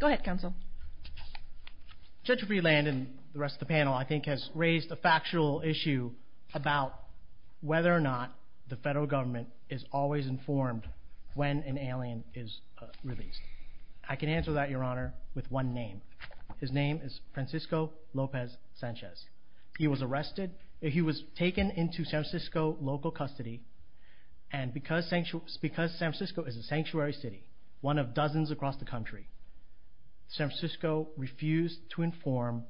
Go ahead, Counsel. Judge Freeland and the rest of the panel, I think, has raised a factual issue about whether or not the federal government is always informed when an alien is released. I can answer that, Your Honor, with one name. His name is Francisco Lopez Sanchez. He was arrested. He was taken into San Francisco local custody, and because San Francisco is a sanctuary city, one of dozens across the country, San Francisco refused to inform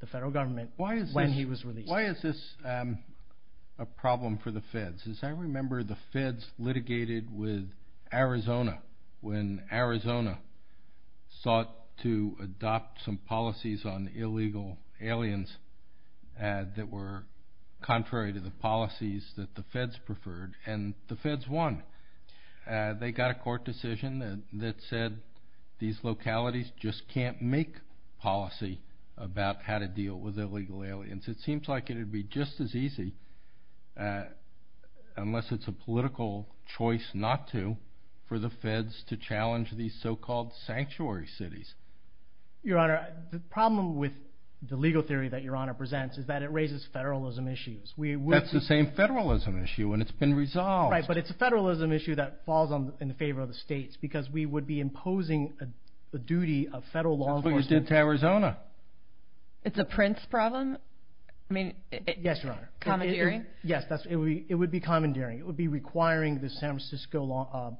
the federal government when he was released. Why is this a problem for the feds? Because I remember the feds litigated with Arizona when Arizona sought to adopt some policies on illegal aliens that were contrary to the policies that the feds preferred, and the feds won. They got a court decision that said these localities just can't make policy about how to deal with illegal aliens. It seems like it would be just as easy, unless it's a political choice not to, for the feds to challenge these so-called sanctuary cities. Your Honor, the problem with the legal theory that Your Honor presents is that it raises federalism issues. That's the same federalism issue, and it's been resolved. Right, but it's a federalism issue that falls in favor of the states because we would be imposing the duty of federal law enforcement. That's what you did to Arizona. It's a Prince problem? Yes, Your Honor. Commandeering? Yes, it would be commandeering. It would be requiring the San Francisco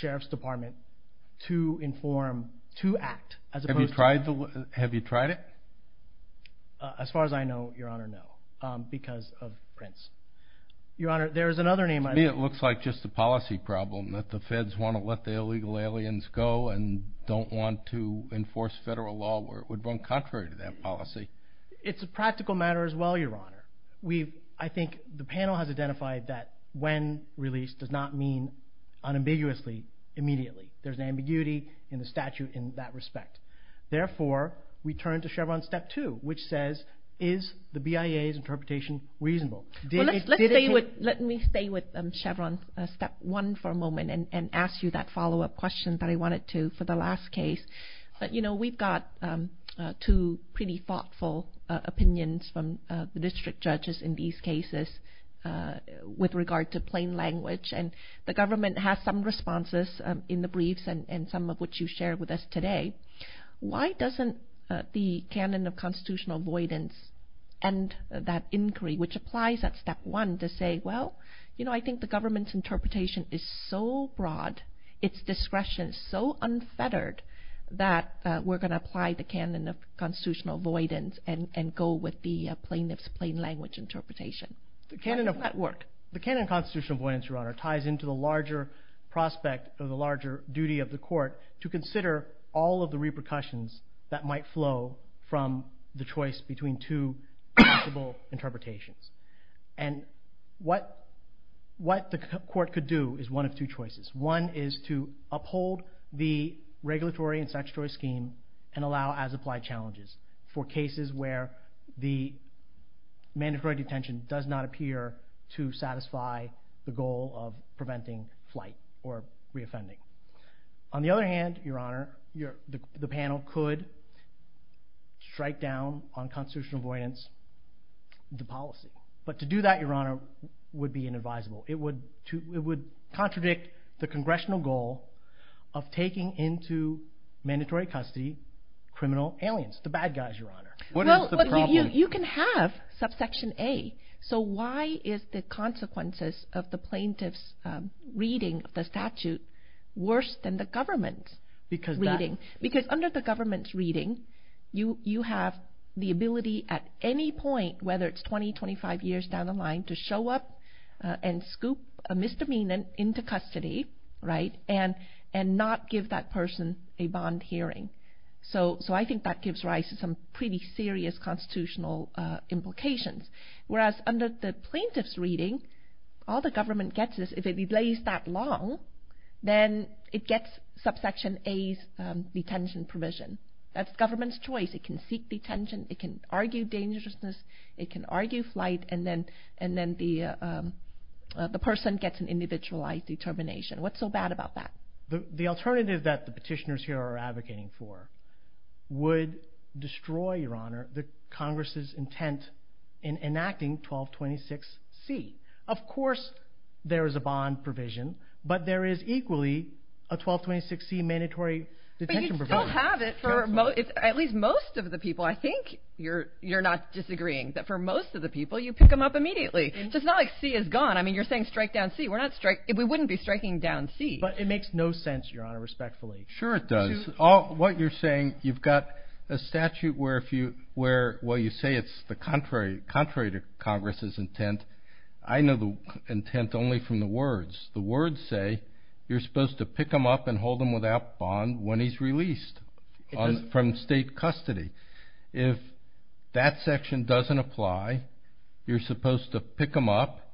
Sheriff's Department to inform, to act, as opposed to— Have you tried it? As far as I know, Your Honor, no, because of Prince. Your Honor, there is another name I know. To me it looks like just a policy problem, that the feds want to let the illegal aliens go and don't want to enforce federal law where it would run contrary to that policy. It's a practical matter as well, Your Honor. I think the panel has identified that when released does not mean unambiguously, immediately. There's an ambiguity in the statute in that respect. Therefore, we turn to Chevron Step 2, which says, is the BIA's interpretation reasonable? Let me stay with Chevron Step 1 for a moment and ask you that follow-up question that I wanted to for the last case. But, you know, we've got two pretty thoughtful opinions from the district judges in these cases with regard to plain language, and the government has some responses in the briefs and some of which you shared with us today. Why doesn't the canon of constitutional avoidance and that inquiry, which applies at Step 1, to say, well, you know, I think the government's interpretation is so broad, its discretion is so unfettered, that we're going to apply the canon of constitutional avoidance and go with the plaintiff's plain language interpretation? How does that work? Well, the canon of constitutional avoidance, Your Honor, ties into the larger prospect of the larger duty of the court to consider all of the repercussions that might flow from the choice between two reasonable interpretations. And what the court could do is one of two choices. One is to uphold the regulatory and statutory scheme and allow as-applied challenges for cases where the mandatory detention does not appear to satisfy the goal of preventing flight or reoffending. On the other hand, Your Honor, the panel could strike down on constitutional avoidance the policy. But to do that, Your Honor, would be inadvisable. It would contradict the congressional goal of taking into mandatory custody criminal aliens, the bad guys, Your Honor. What is the problem? You can have subsection A. So why is the consequences of the plaintiff's reading of the statute worse than the government's reading? Because under the government's reading, you have the ability at any point, whether it's 20, 25 years down the line, to show up and scoop a misdemeanor into custody and not give that person a bond hearing. So I think that gives rise to some pretty serious constitutional implications. Whereas under the plaintiff's reading, all the government gets is if it delays that long, then it gets subsection A's detention provision. That's government's choice. It can seek detention. It can argue dangerousness. It can argue flight. And then the person gets an individualized determination. What's so bad about that? The alternative that the petitioners here are advocating for would destroy, Your Honor, the Congress' intent in enacting 1226C. Of course there is a bond provision, but there is equally a 1226C mandatory detention provision. But you still have it for at least most of the people. I think you're not disagreeing that for most of the people, you pick them up immediately. So it's not like C is gone. I mean, you're saying strike down C. We wouldn't be striking down C. But it makes no sense, Your Honor, respectfully. Sure it does. What you're saying, you've got a statute where you say it's contrary to Congress' intent. I know the intent only from the words. The words say you're supposed to pick him up and hold him without bond when he's released from state custody. If that section doesn't apply, you're supposed to pick him up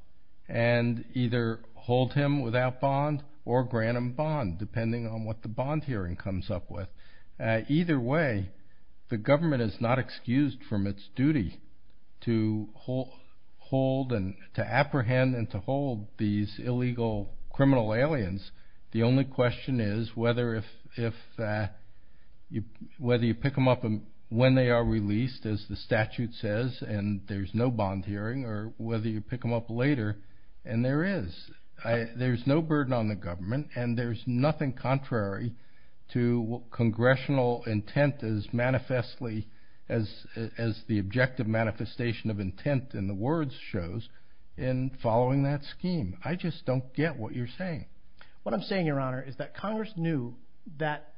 and either hold him without bond or grant him bond, depending on what the bond hearing comes up with. Either way, the government is not excused from its duty to hold and to apprehend and to hold these illegal criminal aliens. The only question is whether you pick them up when they are released, as the statute says, and there's no bond hearing, or whether you pick them up later, and there is. There's no burden on the government, and there's nothing contrary to congressional intent as manifestly, as the objective manifestation of intent in the words shows, in following that scheme. I just don't get what you're saying. What I'm saying, Your Honor, is that Congress knew that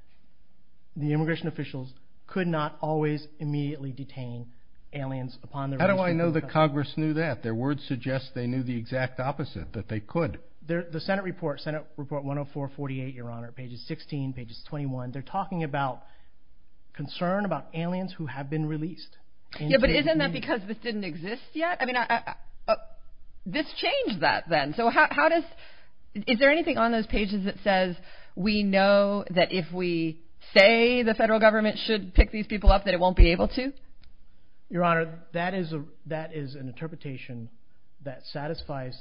the immigration officials could not always immediately detain aliens upon their release from state custody. How do I know that Congress knew that? Their words suggest they knew the exact opposite, that they could. The Senate report, Senate report 10448, Your Honor, pages 16, pages 21, they're talking about concern about aliens who have been released. Yeah, but isn't that because this didn't exist yet? I mean, this changed that then. So how does, is there anything on those pages that says we know that if we say the federal government should pick these people up, that it won't be able to? Your Honor, that is an interpretation that satisfies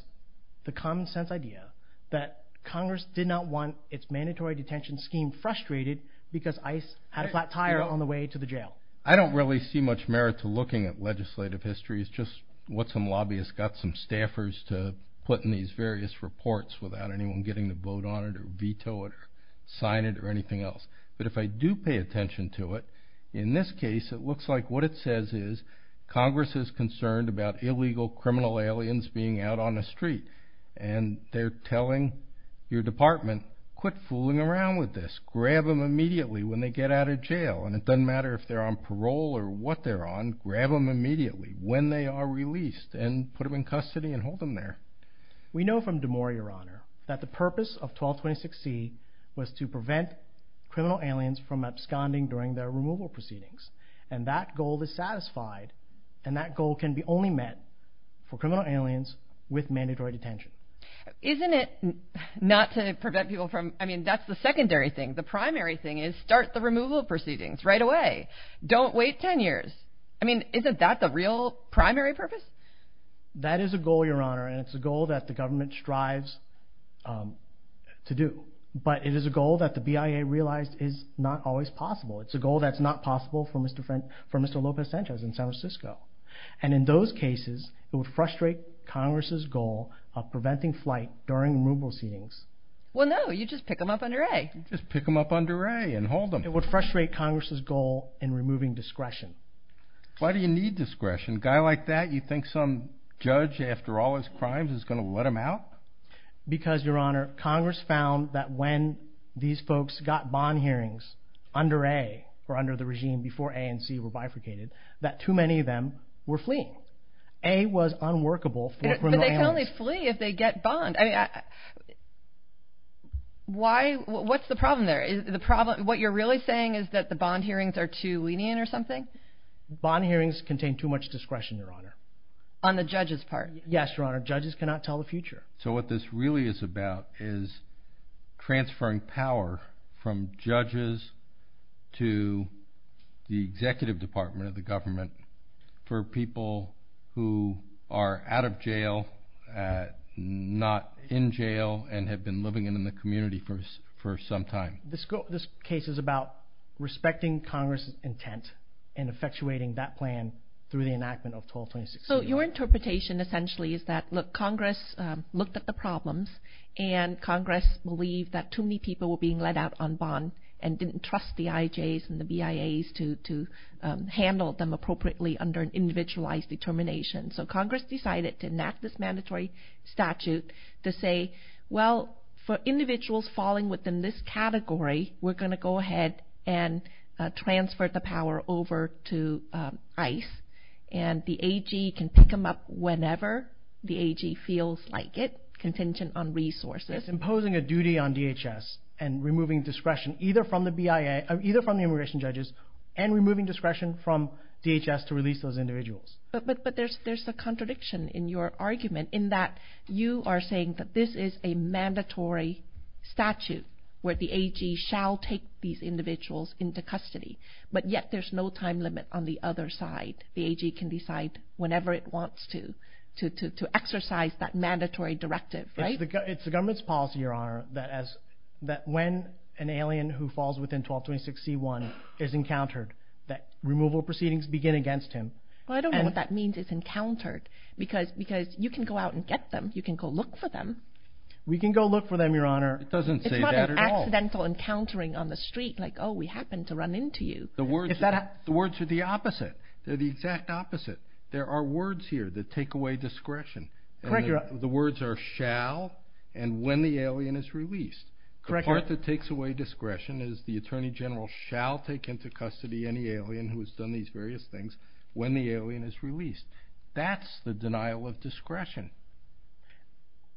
the common sense idea that Congress did not want its mandatory detention scheme frustrated because ICE had a flat tire on the way to the jail. I don't really see much merit to looking at legislative history. It's just what some lobbyists got some staffers to put in these various reports without anyone getting to vote on it or veto it or sign it or anything else. But if I do pay attention to it, in this case, it looks like what it says is Congress is concerned about illegal criminal aliens being out on the street, and they're telling your department, quit fooling around with this. Grab them immediately when they get out of jail, and it doesn't matter if they're on parole or what they're on. Grab them immediately when they are released, and put them in custody and hold them there. We know from Damore, Your Honor, that the purpose of 1226C was to prevent criminal aliens from absconding during their removal proceedings, and that goal is satisfied, and that goal can be only met for criminal aliens with mandatory detention. Isn't it not to prevent people from, I mean, that's the secondary thing. The primary thing is start the removal proceedings right away. Don't wait 10 years. I mean, isn't that the real primary purpose? That is a goal, Your Honor, and it's a goal that the government strives to do. But it is a goal that the BIA realized is not always possible. It's a goal that's not possible for Mr. Lopez Sanchez in San Francisco. And in those cases, it would frustrate Congress' goal of preventing flight during removal proceedings. Well, no, you just pick them up under A. You just pick them up under A and hold them. It would frustrate Congress' goal in removing discretion. Why do you need discretion? A guy like that, you think some judge, after all his crimes, is going to let him out? Because, Your Honor, Congress found that when these folks got bond hearings under A or under the regime before A and C were bifurcated, that too many of them were fleeing. A was unworkable for criminal aliens. But they can only flee if they get bond. Why? What's the problem there? What you're really saying is that the bond hearings are too lenient or something? Bond hearings contain too much discretion, Your Honor. On the judge's part? Yes, Your Honor. Judges cannot tell the future. So what this really is about is transferring power from judges to the executive department of the government for people who are out of jail, not in jail, and have been living in the community for some time. This case is about respecting Congress' intent and effectuating that plan through the enactment of 1226. So your interpretation essentially is that, look, Congress looked at the problems and Congress believed that too many people were being let out on bond and didn't trust the IJs and the BIAs to handle them appropriately under an individualized determination. So Congress decided to enact this mandatory statute to say, well, for individuals falling within this category, we're going to go ahead and transfer the power over to ICE, and the AG can pick them up whenever the AG feels like it, contingent on resources. It's imposing a duty on DHS and removing discretion either from the BIA, either from the immigration judges, and removing discretion from DHS to release those individuals. But there's a contradiction in your argument in that you are saying that this is a mandatory statute where the AG shall take these individuals into custody, but yet there's no time limit on the other side. The AG can decide whenever it wants to exercise that mandatory directive, right? It's the government's policy, Your Honor, that when an alien who falls within 1226C1 is encountered, that removal proceedings begin against him. Well, I don't know what that means it's encountered because you can go out and get them. You can go look for them. We can go look for them, Your Honor. It doesn't say that at all. It's not an accidental encountering on the street, like, oh, we happened to run into you. The words are the opposite. They're the exact opposite. There are words here that take away discretion. The words are shall and when the alien is released. The part that takes away discretion is the Attorney General shall take into custody any alien who has done these various things when the alien is released. That's the denial of discretion.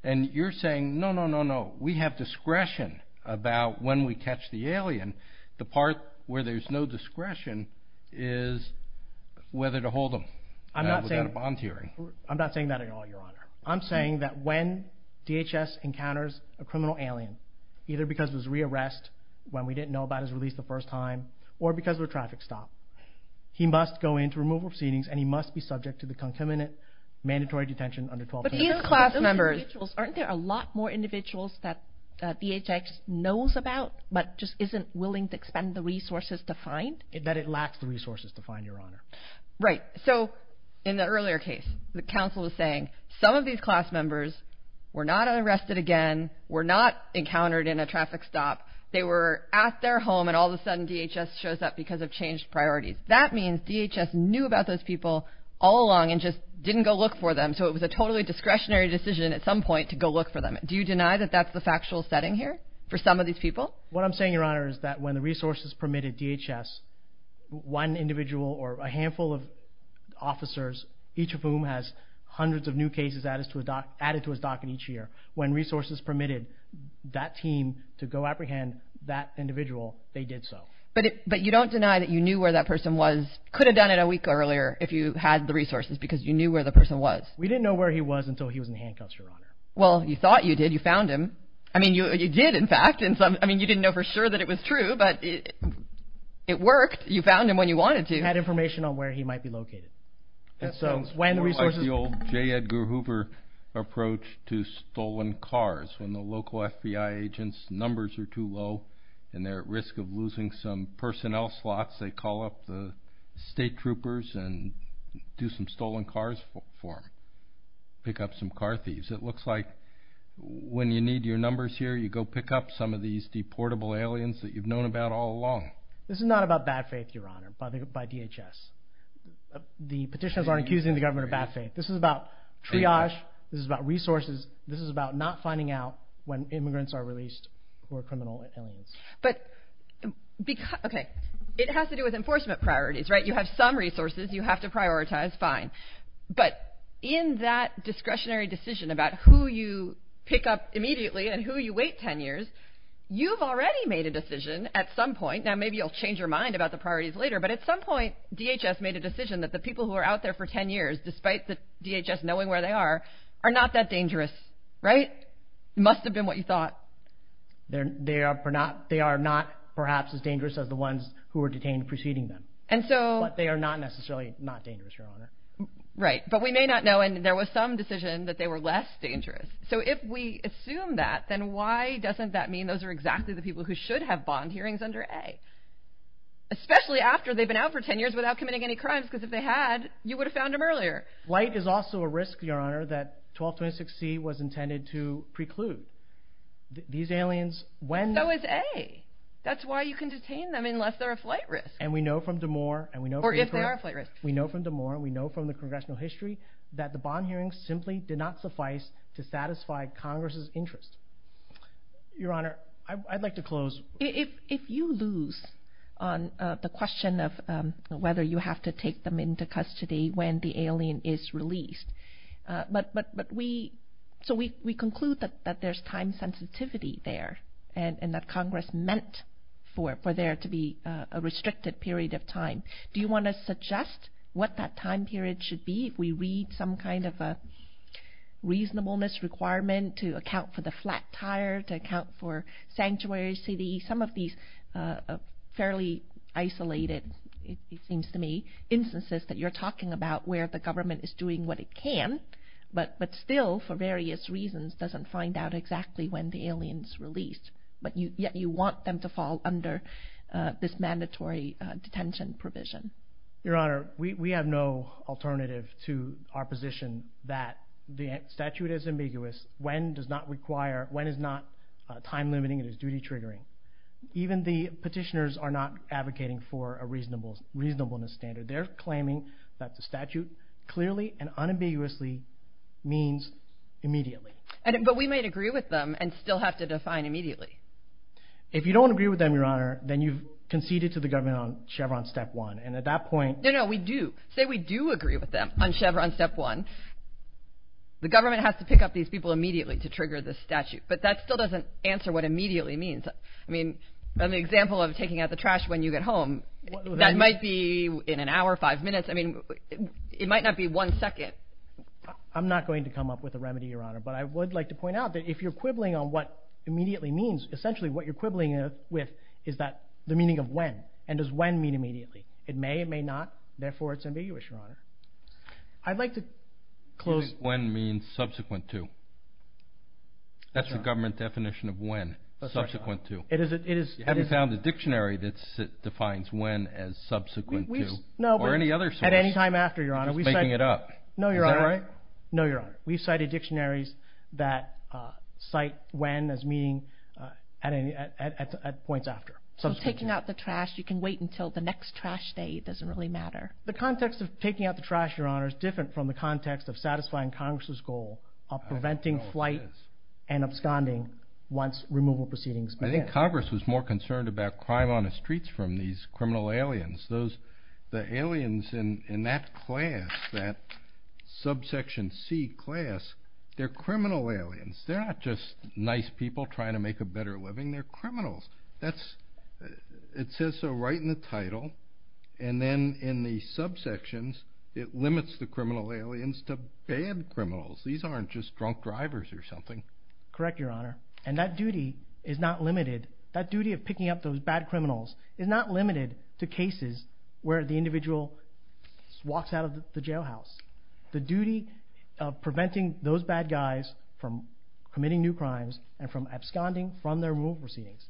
And you're saying, no, no, no, no, we have discretion about when we catch the alien. The part where there's no discretion is whether to hold him without a bond hearing. I'm not saying that at all, Your Honor. I'm saying that when DHS encounters a criminal alien, either because it was rearrested when we didn't know about his release the first time or because of a traffic stop, he must go into removal proceedings, and he must be subject to the concomitant mandatory detention under 1220. But these class members, aren't there a lot more individuals that DHS knows about but just isn't willing to expend the resources to find? That it lacks the resources to find, Your Honor. Right. So in the earlier case, the counsel was saying, some of these class members were not arrested again, were not encountered in a traffic stop. They were at their home, and all of a sudden DHS shows up because of changed priorities. That means DHS knew about those people all along and just didn't go look for them. So it was a totally discretionary decision at some point to go look for them. Do you deny that that's the factual setting here for some of these people? What I'm saying, Your Honor, is that when the resources permitted DHS, one individual or a handful of officers, each of whom has hundreds of new cases added to his docket each year, when resources permitted that team to go apprehend that individual, they did so. But you don't deny that you knew where that person was, could have done it a week earlier if you had the resources because you knew where the person was. We didn't know where he was until he was in handcuffs, Your Honor. Well, you thought you did. You found him. I mean, you did, in fact. I mean, you didn't know for sure that it was true, but it worked. You found him when you wanted to. We had information on where he might be located. That sounds more like the old J. Edgar Hoover approach to stolen cars. When the local FBI agents' numbers are too low and they're at risk of losing some personnel slots, they call up the state troopers and do some stolen cars for them, pick up some car thieves. It looks like when you need your numbers here, you go pick up some of these deportable aliens that you've known about all along. This is not about bad faith, Your Honor, by DHS. The petitioners aren't accusing the government of bad faith. This is about triage. This is about resources. This is about not finding out when immigrants are released who are criminal aliens. But, okay, it has to do with enforcement priorities, right? You have some resources you have to prioritize. Fine. But in that discretionary decision about who you pick up immediately and who you wait 10 years, you've already made a decision at some point. Now, maybe you'll change your mind about the priorities later, but at some point DHS made a decision that the people who are out there for 10 years, despite the DHS knowing where they are, are not that dangerous, right? It must have been what you thought. They are not perhaps as dangerous as the ones who were detained preceding them. But they are not necessarily not dangerous, Your Honor. Right, but we may not know, and there was some decision that they were less dangerous. So if we assume that, then why doesn't that mean those are exactly the people who should have bond hearings under A? Especially after they've been out for 10 years without committing any crimes, because if they had, you would have found them earlier. Flight is also a risk, Your Honor, that 1226C was intended to preclude. These aliens, when— So is A. That's why you can detain them unless they're a flight risk. And we know from Damore— Or if they are a flight risk. We know from Damore and we know from the congressional history that the bond hearings simply did not suffice to satisfy Congress's interest. Your Honor, I'd like to close. If you lose on the question of whether you have to take them into custody when the alien is released, but we— So we conclude that there's time sensitivity there and that Congress meant for there to be a restricted period of time. Do you want to suggest what that time period should be if we read some kind of a reasonableness requirement to account for the flat tire, to account for sanctuary CD, some of these fairly isolated, it seems to me, instances that you're talking about where the government is doing what it can, but still for various reasons doesn't find out exactly when the alien is released, but yet you want them to fall under this mandatory detention provision? Your Honor, we have no alternative to our position that the statute is ambiguous when is not time limiting and is duty triggering. Even the petitioners are not advocating for a reasonableness standard. They're claiming that the statute clearly and unambiguously means immediately. But we might agree with them and still have to define immediately. If you don't agree with them, Your Honor, then you've conceded to the government on Chevron Step 1, and at that point— No, no, we do. Say we do agree with them on Chevron Step 1. The government has to pick up these people immediately to trigger this statute, but that still doesn't answer what immediately means. I mean, an example of taking out the trash when you get home, that might be in an hour, five minutes. I mean, it might not be one second. I'm not going to come up with a remedy, Your Honor, but I would like to point out that if you're quibbling on what immediately means, essentially what you're quibbling with is the meaning of when, and does when mean immediately? It may, it may not, therefore it's ambiguous, Your Honor. I'd like to close— When means subsequent to. That's the government definition of when, subsequent to. It is, it is— You haven't found a dictionary that defines when as subsequent to. No, but— Or any other source. At any time after, Your Honor. Just making it up. No, Your Honor. Is that right? No, Your Honor. We've cited dictionaries that cite when as meaning at points after, subsequent to. So taking out the trash, you can wait until the next trash day. It doesn't really matter. The context of taking out the trash, Your Honor, is different from the context of satisfying Congress' goal of preventing flight and absconding once removal proceedings begin. I think Congress was more concerned about crime on the streets from these criminal aliens. Those, the aliens in that class, that subsection C class, they're criminal aliens. They're not just nice people trying to make a better living. They're criminals. That's, it says so right in the title. And then in the subsections, it limits the criminal aliens to bad criminals. These aren't just drunk drivers or something. Correct, Your Honor. And that duty is not limited. That duty of picking up those bad criminals is not limited to cases where the individual walks out of the jailhouse. The duty of preventing those bad guys from committing new crimes and from absconding from their removal proceedings.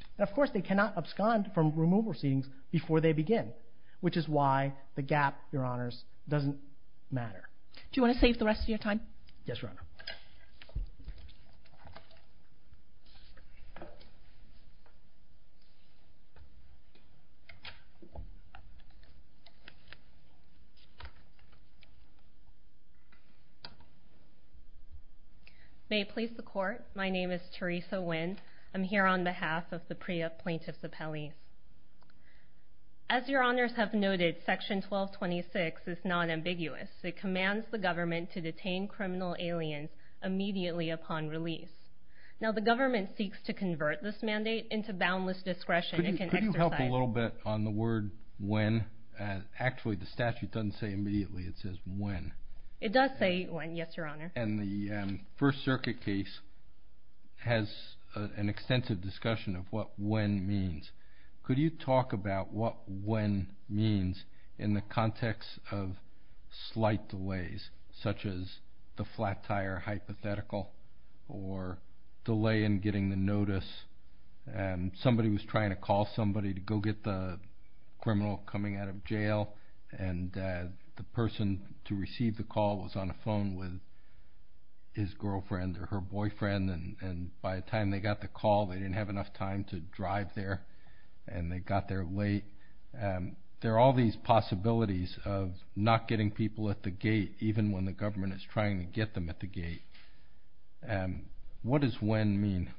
Before they begin. Which is why the gap, Your Honors, doesn't matter. Do you want to save the rest of your time? Yes, Your Honor. May it please the Court. My name is Teresa Nguyen. I'm here on behalf of the PREA plaintiffs appellees. As Your Honors have noted, Section 1226 is non-ambiguous. It commands the government to detain criminal aliens immediately upon release. Now, the government seeks to convert this mandate into boundless discretion. Could you help a little bit on the word when? Actually, the statute doesn't say immediately. It says when. It does say when, yes, Your Honor. And the First Circuit case has an extensive discussion of what when means. Could you talk about what when means in the context of slight delays, such as the flat tire hypothetical or delay in getting the notice. Somebody was trying to call somebody to go get the criminal coming out of jail, and the person to receive the call was on the phone with his girlfriend or her boyfriend, and by the time they got the call, they didn't have enough time to drive there, and they got there late. There are all these possibilities of not getting people at the gate, even when the government is trying to get them at the gate. What does when mean?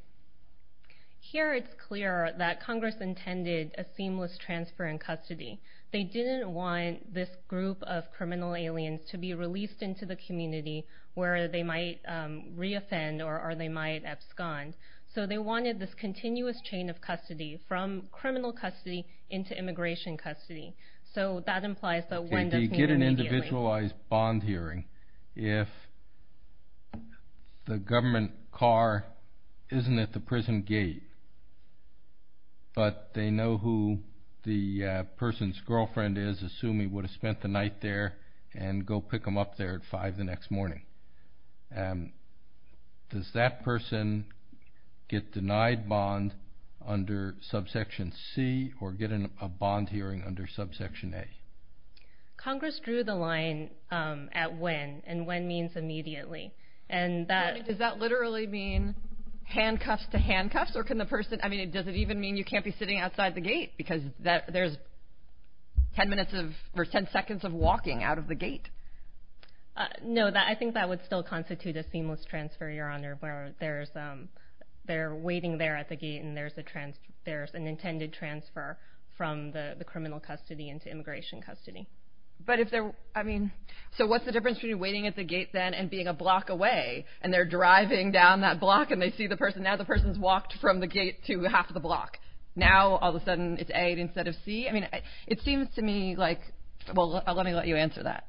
Here it's clear that Congress intended a seamless transfer in custody. They didn't want this group of criminal aliens to be released into the community where they might reoffend or they might abscond. So they wanted this continuous chain of custody from criminal custody into immigration custody. So that implies that when doesn't mean immediately. They get an individualized bond hearing if the government car isn't at the prison gate, but they know who the person's girlfriend is, and they assume he would have spent the night there and go pick them up there at 5 the next morning. Does that person get denied bond under subsection C or get a bond hearing under subsection A? Congress drew the line at when, and when means immediately. Does that literally mean handcuffs to handcuffs? Does it even mean you can't be sitting outside the gate? Because there's 10 seconds of walking out of the gate. No, I think that would still constitute a seamless transfer, Your Honor, where they're waiting there at the gate, and there's an intended transfer from the criminal custody into immigration custody. So what's the difference between waiting at the gate then and being a block away, and they're driving down that block and they see the person? The person's walked from the gate to half the block. Now all of a sudden it's A instead of C. It seems to me like, well, let me let you answer that.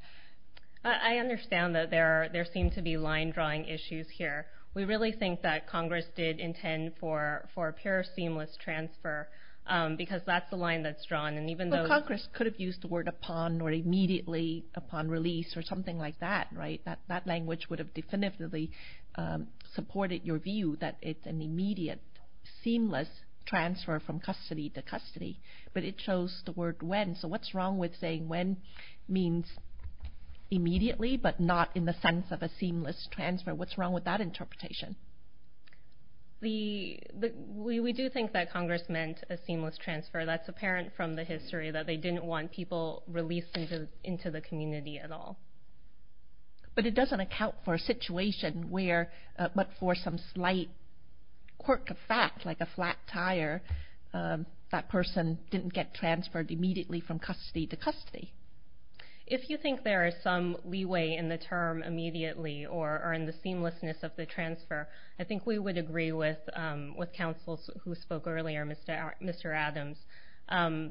I understand that there seem to be line-drawing issues here. We really think that Congress did intend for a pure seamless transfer because that's the line that's drawn. Congress could have used the word upon or immediately upon release or something like that. That language would have definitively supported your view that it's an immediate, seamless transfer from custody to custody, but it chose the word when. So what's wrong with saying when means immediately but not in the sense of a seamless transfer? What's wrong with that interpretation? We do think that Congress meant a seamless transfer. That's apparent from the history that they didn't want people released into the community at all. But it doesn't account for a situation where but for some slight quirk of fact, like a flat tire, that person didn't get transferred immediately from custody to custody. If you think there is some leeway in the term immediately or in the seamlessness of the transfer, I think we would agree with counsels who spoke earlier, Mr. Adams,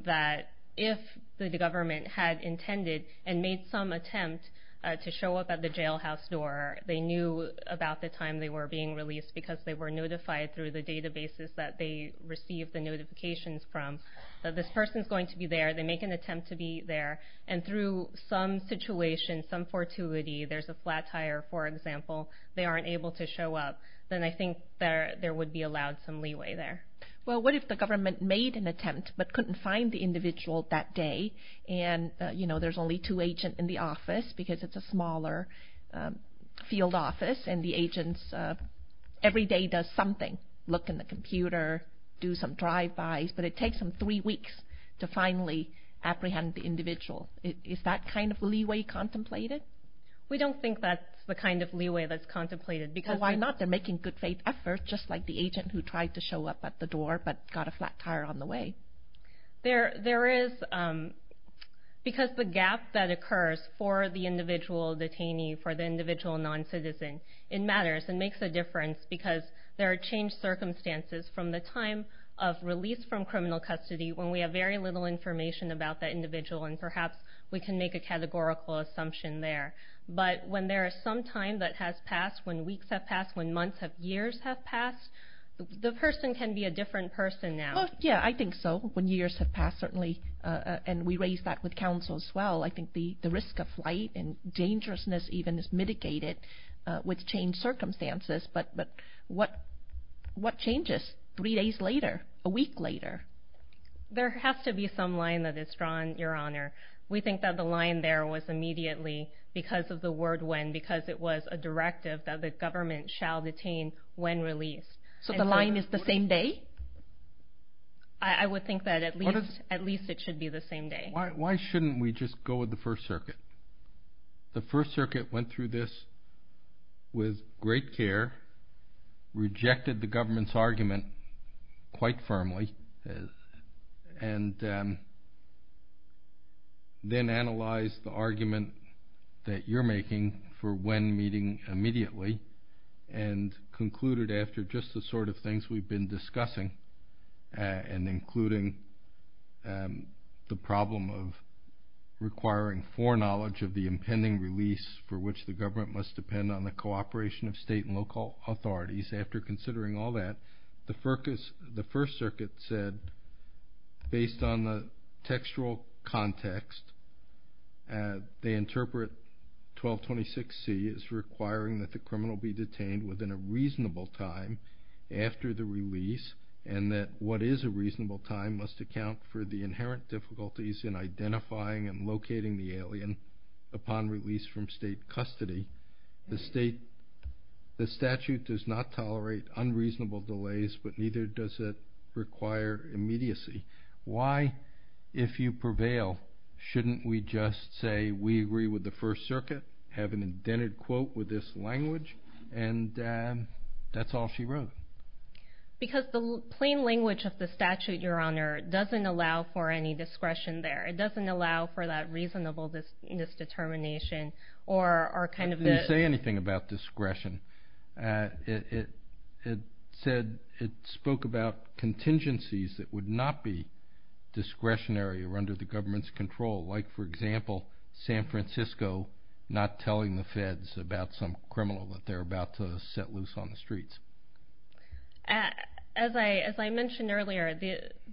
that if the government had intended and made some attempt to show up at the jailhouse door, they knew about the time they were being released because they were notified through the databases that they received the notifications from, that this person is going to be there, they make an attempt to be there, and through some situation, some fortuity, there's a flat tire, for example, they aren't able to show up, then I think there would be allowed some leeway there. Well, what if the government made an attempt but couldn't find the individual that day, and there's only two agents in the office because it's a smaller field office, and the agents every day does something, look in the computer, do some drive-bys, but it takes them three weeks to finally apprehend the individual. Is that kind of leeway contemplated? We don't think that's the kind of leeway that's contemplated. Well, why not? They're making good faith efforts, just like the agent who tried to show up at the door but got a flat tire on the way. There is, because the gap that occurs for the individual detainee, for the individual non-citizen, it matters. It makes a difference because there are changed circumstances from the time of release from criminal custody when we have very little information about that individual, and perhaps we can make a categorical assumption there. But when there is some time that has passed, when weeks have passed, when months of years have passed, the person can be a different person now. Yeah, I think so. When years have passed, certainly, and we raised that with counsel as well, I think the risk of flight and dangerousness even is mitigated with changed circumstances. But what changes three days later, a week later? There has to be some line that is drawn, Your Honor. We think that the line there was immediately because of the word when, because it was a directive that the government shall detain when released. So the line is the same day? I would think that at least it should be the same day. Why shouldn't we just go with the First Circuit? The First Circuit went through this with great care, rejected the government's argument quite firmly, and then analyzed the argument that you're making for when meeting immediately and concluded after just the sort of things we've been discussing and including the problem of requiring foreknowledge of the impending release for which the government must depend on the cooperation of state and local authorities. After considering all that, the First Circuit said, based on the textual context, they interpret 1226C as requiring that the criminal be detained within a reasonable time after the release and that what is a reasonable time must account for the inherent difficulties in identifying and locating the alien upon release from state custody. The statute does not tolerate unreasonable delays, but neither does it require immediacy. Why, if you prevail, shouldn't we just say we agree with the First Circuit, have an indented quote with this language? And that's all she wrote. Because the plain language of the statute, Your Honor, doesn't allow for any discretion there. It doesn't allow for that reasonable misdetermination or kind of the— It didn't say anything about discretion. It said—it spoke about contingencies that would not be discretionary or under the government's control, like, for example, San Francisco not telling the feds about some criminal that they're about to set loose on the streets. As I mentioned earlier,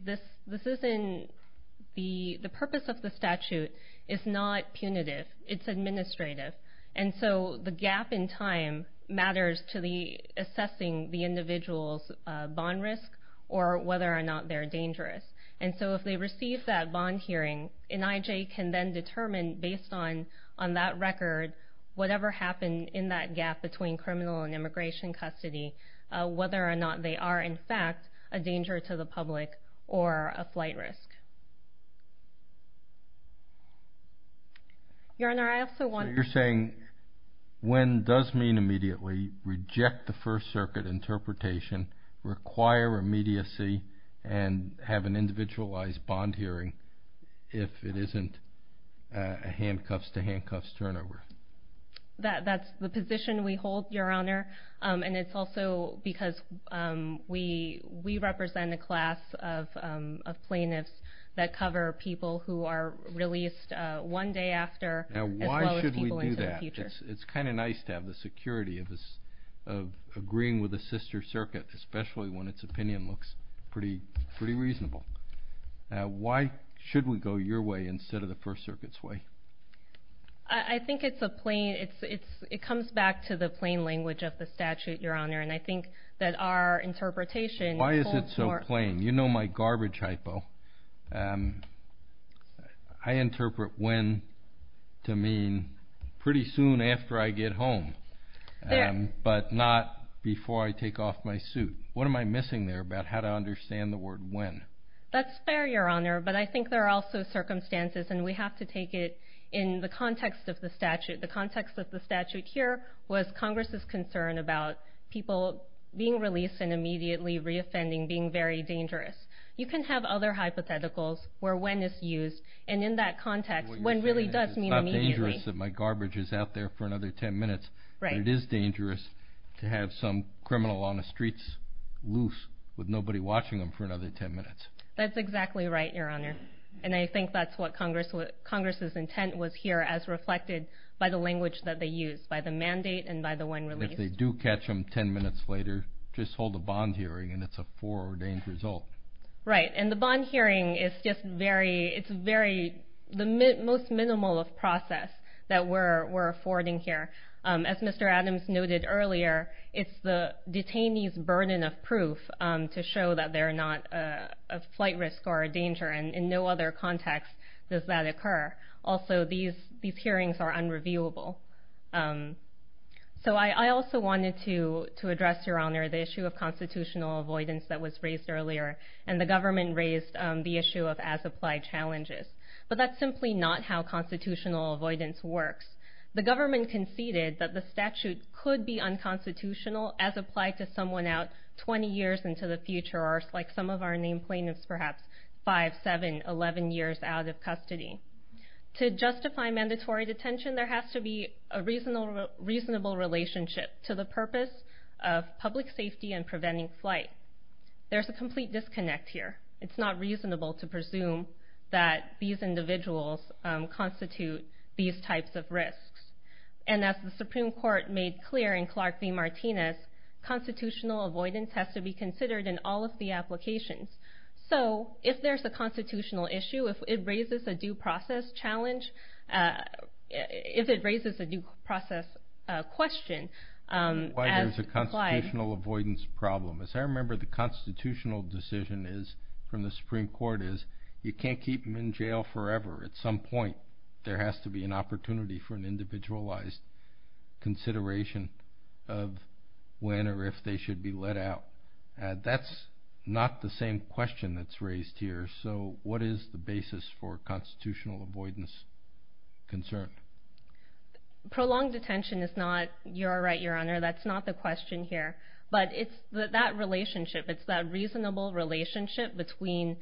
this isn't—the purpose of the statute is not punitive. It's administrative. And so the gap in time matters to the assessing the individual's bond risk or whether or not they're dangerous. And so if they receive that bond hearing, an IJ can then determine, based on that record, whatever happened in that gap between criminal and immigration custody, whether or not they are in fact a danger to the public or a flight risk. Your Honor, I also want— So you're saying when does mean immediately, reject the First Circuit interpretation, require immediacy, and have an individualized bond hearing if it isn't a handcuffs-to-handcuffs turnover? That's the position we hold, Your Honor. And it's also because we represent a class of plaintiffs that cover people who are released one day after as well as people into the future. Now why should we do that? It's kind of nice to have the security of agreeing with a sister circuit, especially when its opinion looks pretty reasonable. Why should we go your way instead of the First Circuit's way? I think it's a plain—it comes back to the plain language of the statute, Your Honor, and I think that our interpretation holds more— Why is it so plain? You know my garbage hypo. I interpret when to mean pretty soon after I get home, but not before I take off my suit. What am I missing there about how to understand the word when? That's fair, Your Honor, but I think there are also circumstances, and we have to take it in the context of the statute. The context of the statute here was Congress's concern about people being released and immediately reoffending being very dangerous. You can have other hypotheticals where when is used, and in that context when really does mean immediately. It's not dangerous that my garbage is out there for another 10 minutes, but it is dangerous to have some criminal on the streets loose with nobody watching them for another 10 minutes. That's exactly right, Your Honor, and I think that's what Congress's intent was here as reflected by the language that they used, by the mandate and by the when released. If they do catch them 10 minutes later, just hold a bond hearing, and it's a foreordained result. Right, and the bond hearing is just the most minimal of process that we're affording here. As Mr. Adams noted earlier, it's the detainee's burden of proof to show that they're not a flight risk or a danger, and in no other context does that occur. Also, these hearings are unreviewable. I also wanted to address, Your Honor, the issue of constitutional avoidance that was raised earlier, and the government raised the issue of as-applied challenges, but that's simply not how constitutional avoidance works. The government conceded that the statute could be unconstitutional as applied to someone out 20 years into the future, or like some of our name plaintiffs, perhaps 5, 7, 11 years out of custody. To justify mandatory detention, there has to be a reasonable relationship to the purpose of public safety and preventing flight. There's a complete disconnect here. It's not reasonable to presume that these individuals constitute these types of risks. As the Supreme Court made clear in Clark v. Martinez, constitutional avoidance has to be considered in all of the applications. If there's a constitutional issue, if it raises a due process challenge, if it raises a due process question as applied... Why there's a constitutional avoidance problem. As I remember, the constitutional decision from the Supreme Court is you can't keep them in jail forever. At some point, there has to be an opportunity for an individualized consideration of when or if they should be let out. That's not the same question that's raised here. So what is the basis for constitutional avoidance concern? Prolonged detention is not your right, Your Honor. That's not the question here. But it's that relationship, it's that reasonable relationship between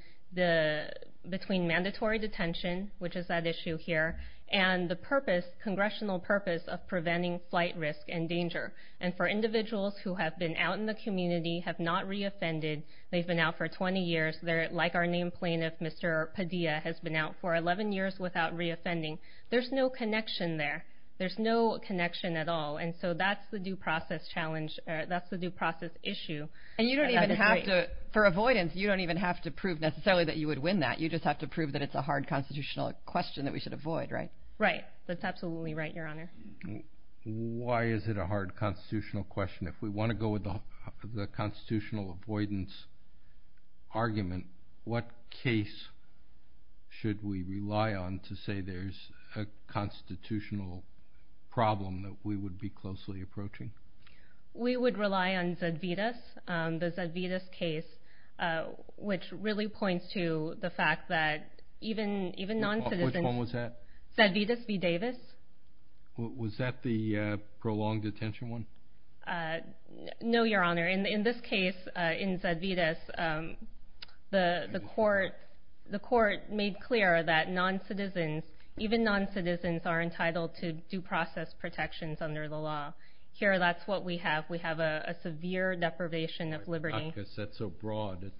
mandatory detention, which is that issue here, and the congressional purpose of preventing flight risk and danger. And for individuals who have been out in the community, have not reoffended, they've been out for 20 years, like our named plaintiff, Mr. Padilla, has been out for 11 years without reoffending. There's no connection there. There's no connection at all. And so that's the due process challenge, that's the due process issue. And you don't even have to, for avoidance, you don't even have to prove necessarily that you would win that. You just have to prove that it's a hard constitutional question that we should avoid, right? Right. That's absolutely right, Your Honor. Why is it a hard constitutional question? If we want to go with the constitutional avoidance argument, what case should we rely on to say there's a constitutional problem that we would be closely approaching? We would rely on Zedvitas, the Zedvitas case, which really points to the fact that even non-citizens... Which one was that? Zedvitas v. Davis. Was that the prolonged detention one? No, Your Honor. In this case, in Zedvitas, the court made clear that non-citizens, even non-citizens are entitled to due process protections under the law. Here, that's what we have. We have a severe deprivation of liberty. That's so broad.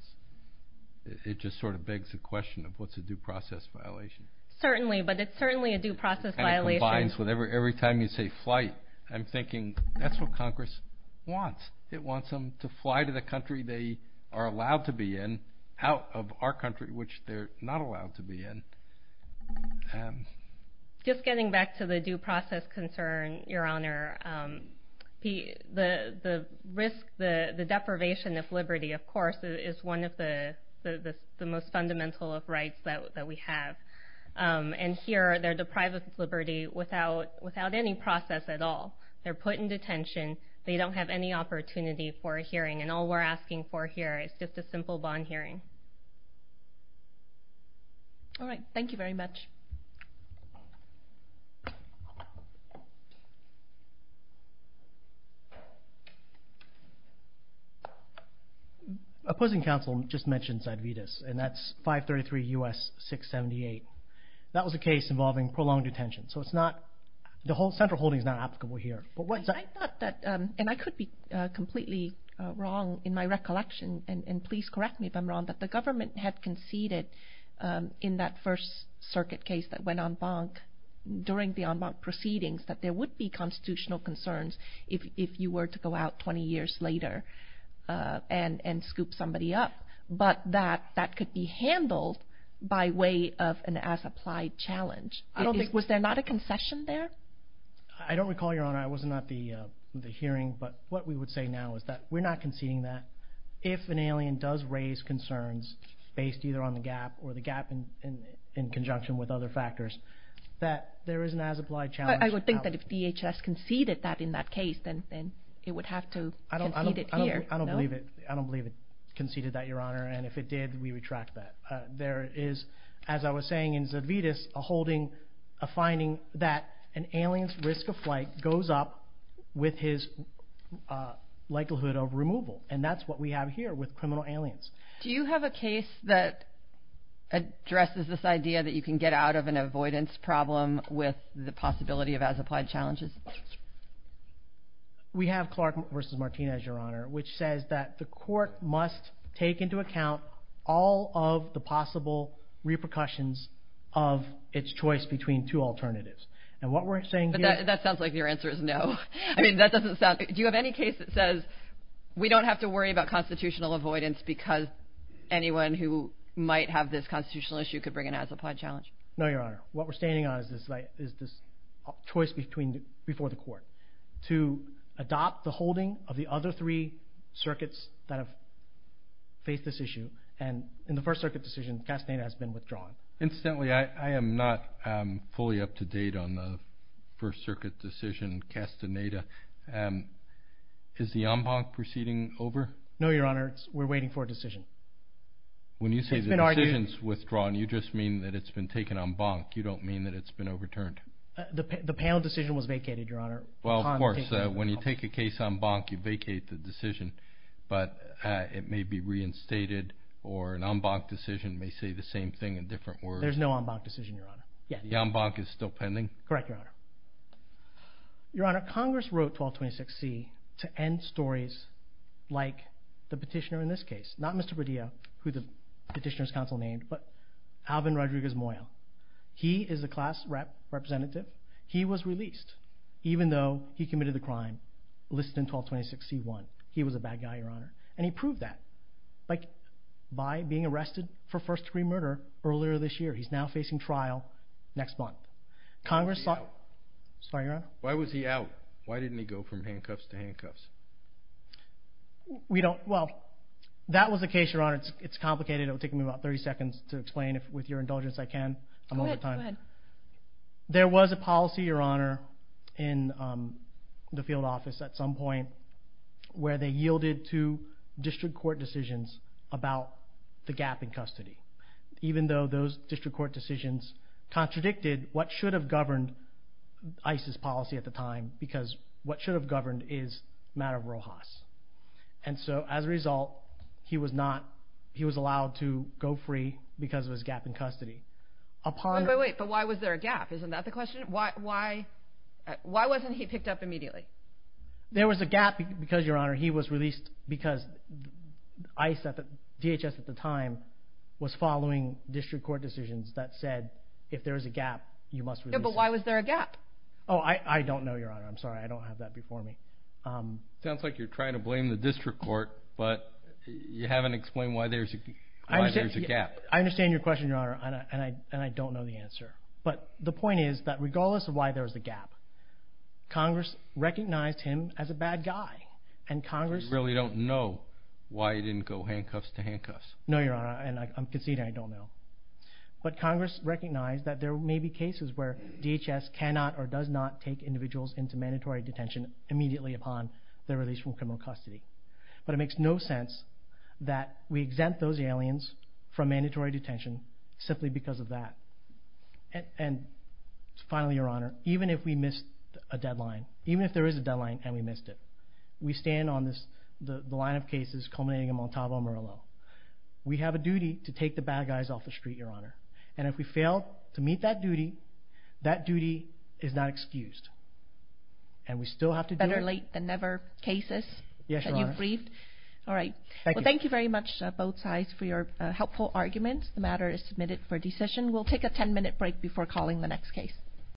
It just sort of begs the question of what's a due process violation. Certainly, but it's certainly a due process violation. It kind of combines with every time you say flight. I'm thinking that's what Congress wants. It wants them to fly to the country they are allowed to be in out of our country, which they're not allowed to be in. Just getting back to the due process concern, Your Honor, the risk, the deprivation of liberty, of course, is one of the most fundamental rights that we have. Here, they're deprived of liberty without any process at all. They're put in detention. They don't have any opportunity for a hearing, and all we're asking for here is just a simple bond hearing. All right. Thank you very much. Thank you. Opposing counsel just mentioned Cidvitas, and that's 533 U.S. 678. That was a case involving prolonged detention, so the central holding is not applicable here. I thought that, and I could be completely wrong in my recollection, and please correct me if I'm wrong, that the government had conceded in that first circuit case that went en banc during the en banc proceedings that there would be constitutional concerns if you were to go out 20 years later and scoop somebody up, but that that could be handled by way of an as-applied challenge. Was there not a concession there? I don't recall, Your Honor. It was not the hearing, but what we would say now is that we're not conceding that. If an alien does raise concerns based either on the gap or the gap in conjunction with other factors, that there is an as-applied challenge. I would think that if DHS conceded that in that case, then it would have to concede it here. I don't believe it conceded that, Your Honor, and if it did, we retract that. There is, as I was saying in Cidvitas, a finding that an alien's risk of flight goes up with his likelihood of removal, and that's what we have here with criminal aliens. Do you have a case that addresses this idea that you can get out of an avoidance problem with the possibility of as-applied challenges? We have Clark v. Martinez, Your Honor, which says that the court must take into account all of the possible repercussions of its choice between two alternatives. That sounds like your answer is no. Do you have any case that says we don't have to worry about constitutional avoidance because anyone who might have this constitutional issue could bring an as-applied challenge? No, Your Honor. What we're standing on is this choice before the court to adopt the holding of the other three circuits that have faced this issue, and in the First Circuit decision, Castaneda has been withdrawn. Incidentally, I am not fully up to date on the First Circuit decision, Castaneda. Is the en banc proceeding over? No, Your Honor. We're waiting for a decision. When you say the decision's withdrawn, you just mean that it's been taken en banc. You don't mean that it's been overturned. The panel decision was vacated, Your Honor. Well, of course. When you take a case en banc, you vacate the decision, but it may be reinstated, or an en banc decision may say the same thing in different words. There's no en banc decision, Your Honor. The en banc is still pending? Correct, Your Honor. Your Honor, Congress wrote 1226C to end stories like the petitioner in this case. Not Mr. Padilla, who the petitioner's counsel named, but Alvin Rodriguez Moyo. He is the class representative. He was released, even though he committed the crime listed in 1226C1. He was a bad guy, Your Honor, and he proved that by being arrested for first-degree murder earlier this year. He's now facing trial next month. Congress thought... Why was he out? Sorry, Your Honor? Why was he out? Why didn't he go from handcuffs to handcuffs? We don't... Well, that was the case, Your Honor. It's complicated. It'll take me about 30 seconds to explain. With your indulgence, I can. I'm out of time. Go ahead. There was a policy, Your Honor, in the field office at some point where they yielded to district court decisions about the gap in custody, even though those district court decisions contradicted what should have governed ICE's policy at the time because what should have governed is Madam Rojas. And so, as a result, he was allowed to go free because of his gap in custody. Wait, but why was there a gap? Isn't that the question? Why wasn't he picked up immediately? There was a gap because, Your Honor, he was released because DHS at the time was following district court decisions that said if there is a gap, you must release him. Yeah, but why was there a gap? Oh, I don't know, Your Honor. I'm sorry. I don't have that before me. Sounds like you're trying to blame the district court, but you haven't explained why there's a gap. I understand your question, Your Honor, and I don't know the answer. But the point is that regardless of why there was a gap, Congress recognized him as a bad guy, and Congress... I don't know why he didn't go handcuffs to handcuffs. No, Your Honor, and I'm conceding I don't know. But Congress recognized that there may be cases where DHS cannot or does not take individuals into mandatory detention immediately upon their release from criminal custody. But it makes no sense that we exempt those aliens from mandatory detention simply because of that. And finally, Your Honor, even if we missed a deadline, even if there is a deadline and we missed it, we stand on the line of cases culminating in Montalvo, Murillo. We have a duty to take the bad guys off the street, Your Honor. And if we fail to meet that duty, that duty is not excused. And we still have to do it. Better late than never cases that you've briefed. Yes, Your Honor. All right. Well, thank you very much, both sides, for your helpful arguments. The matter is submitted for decision. We'll take a 10-minute break before calling the next case.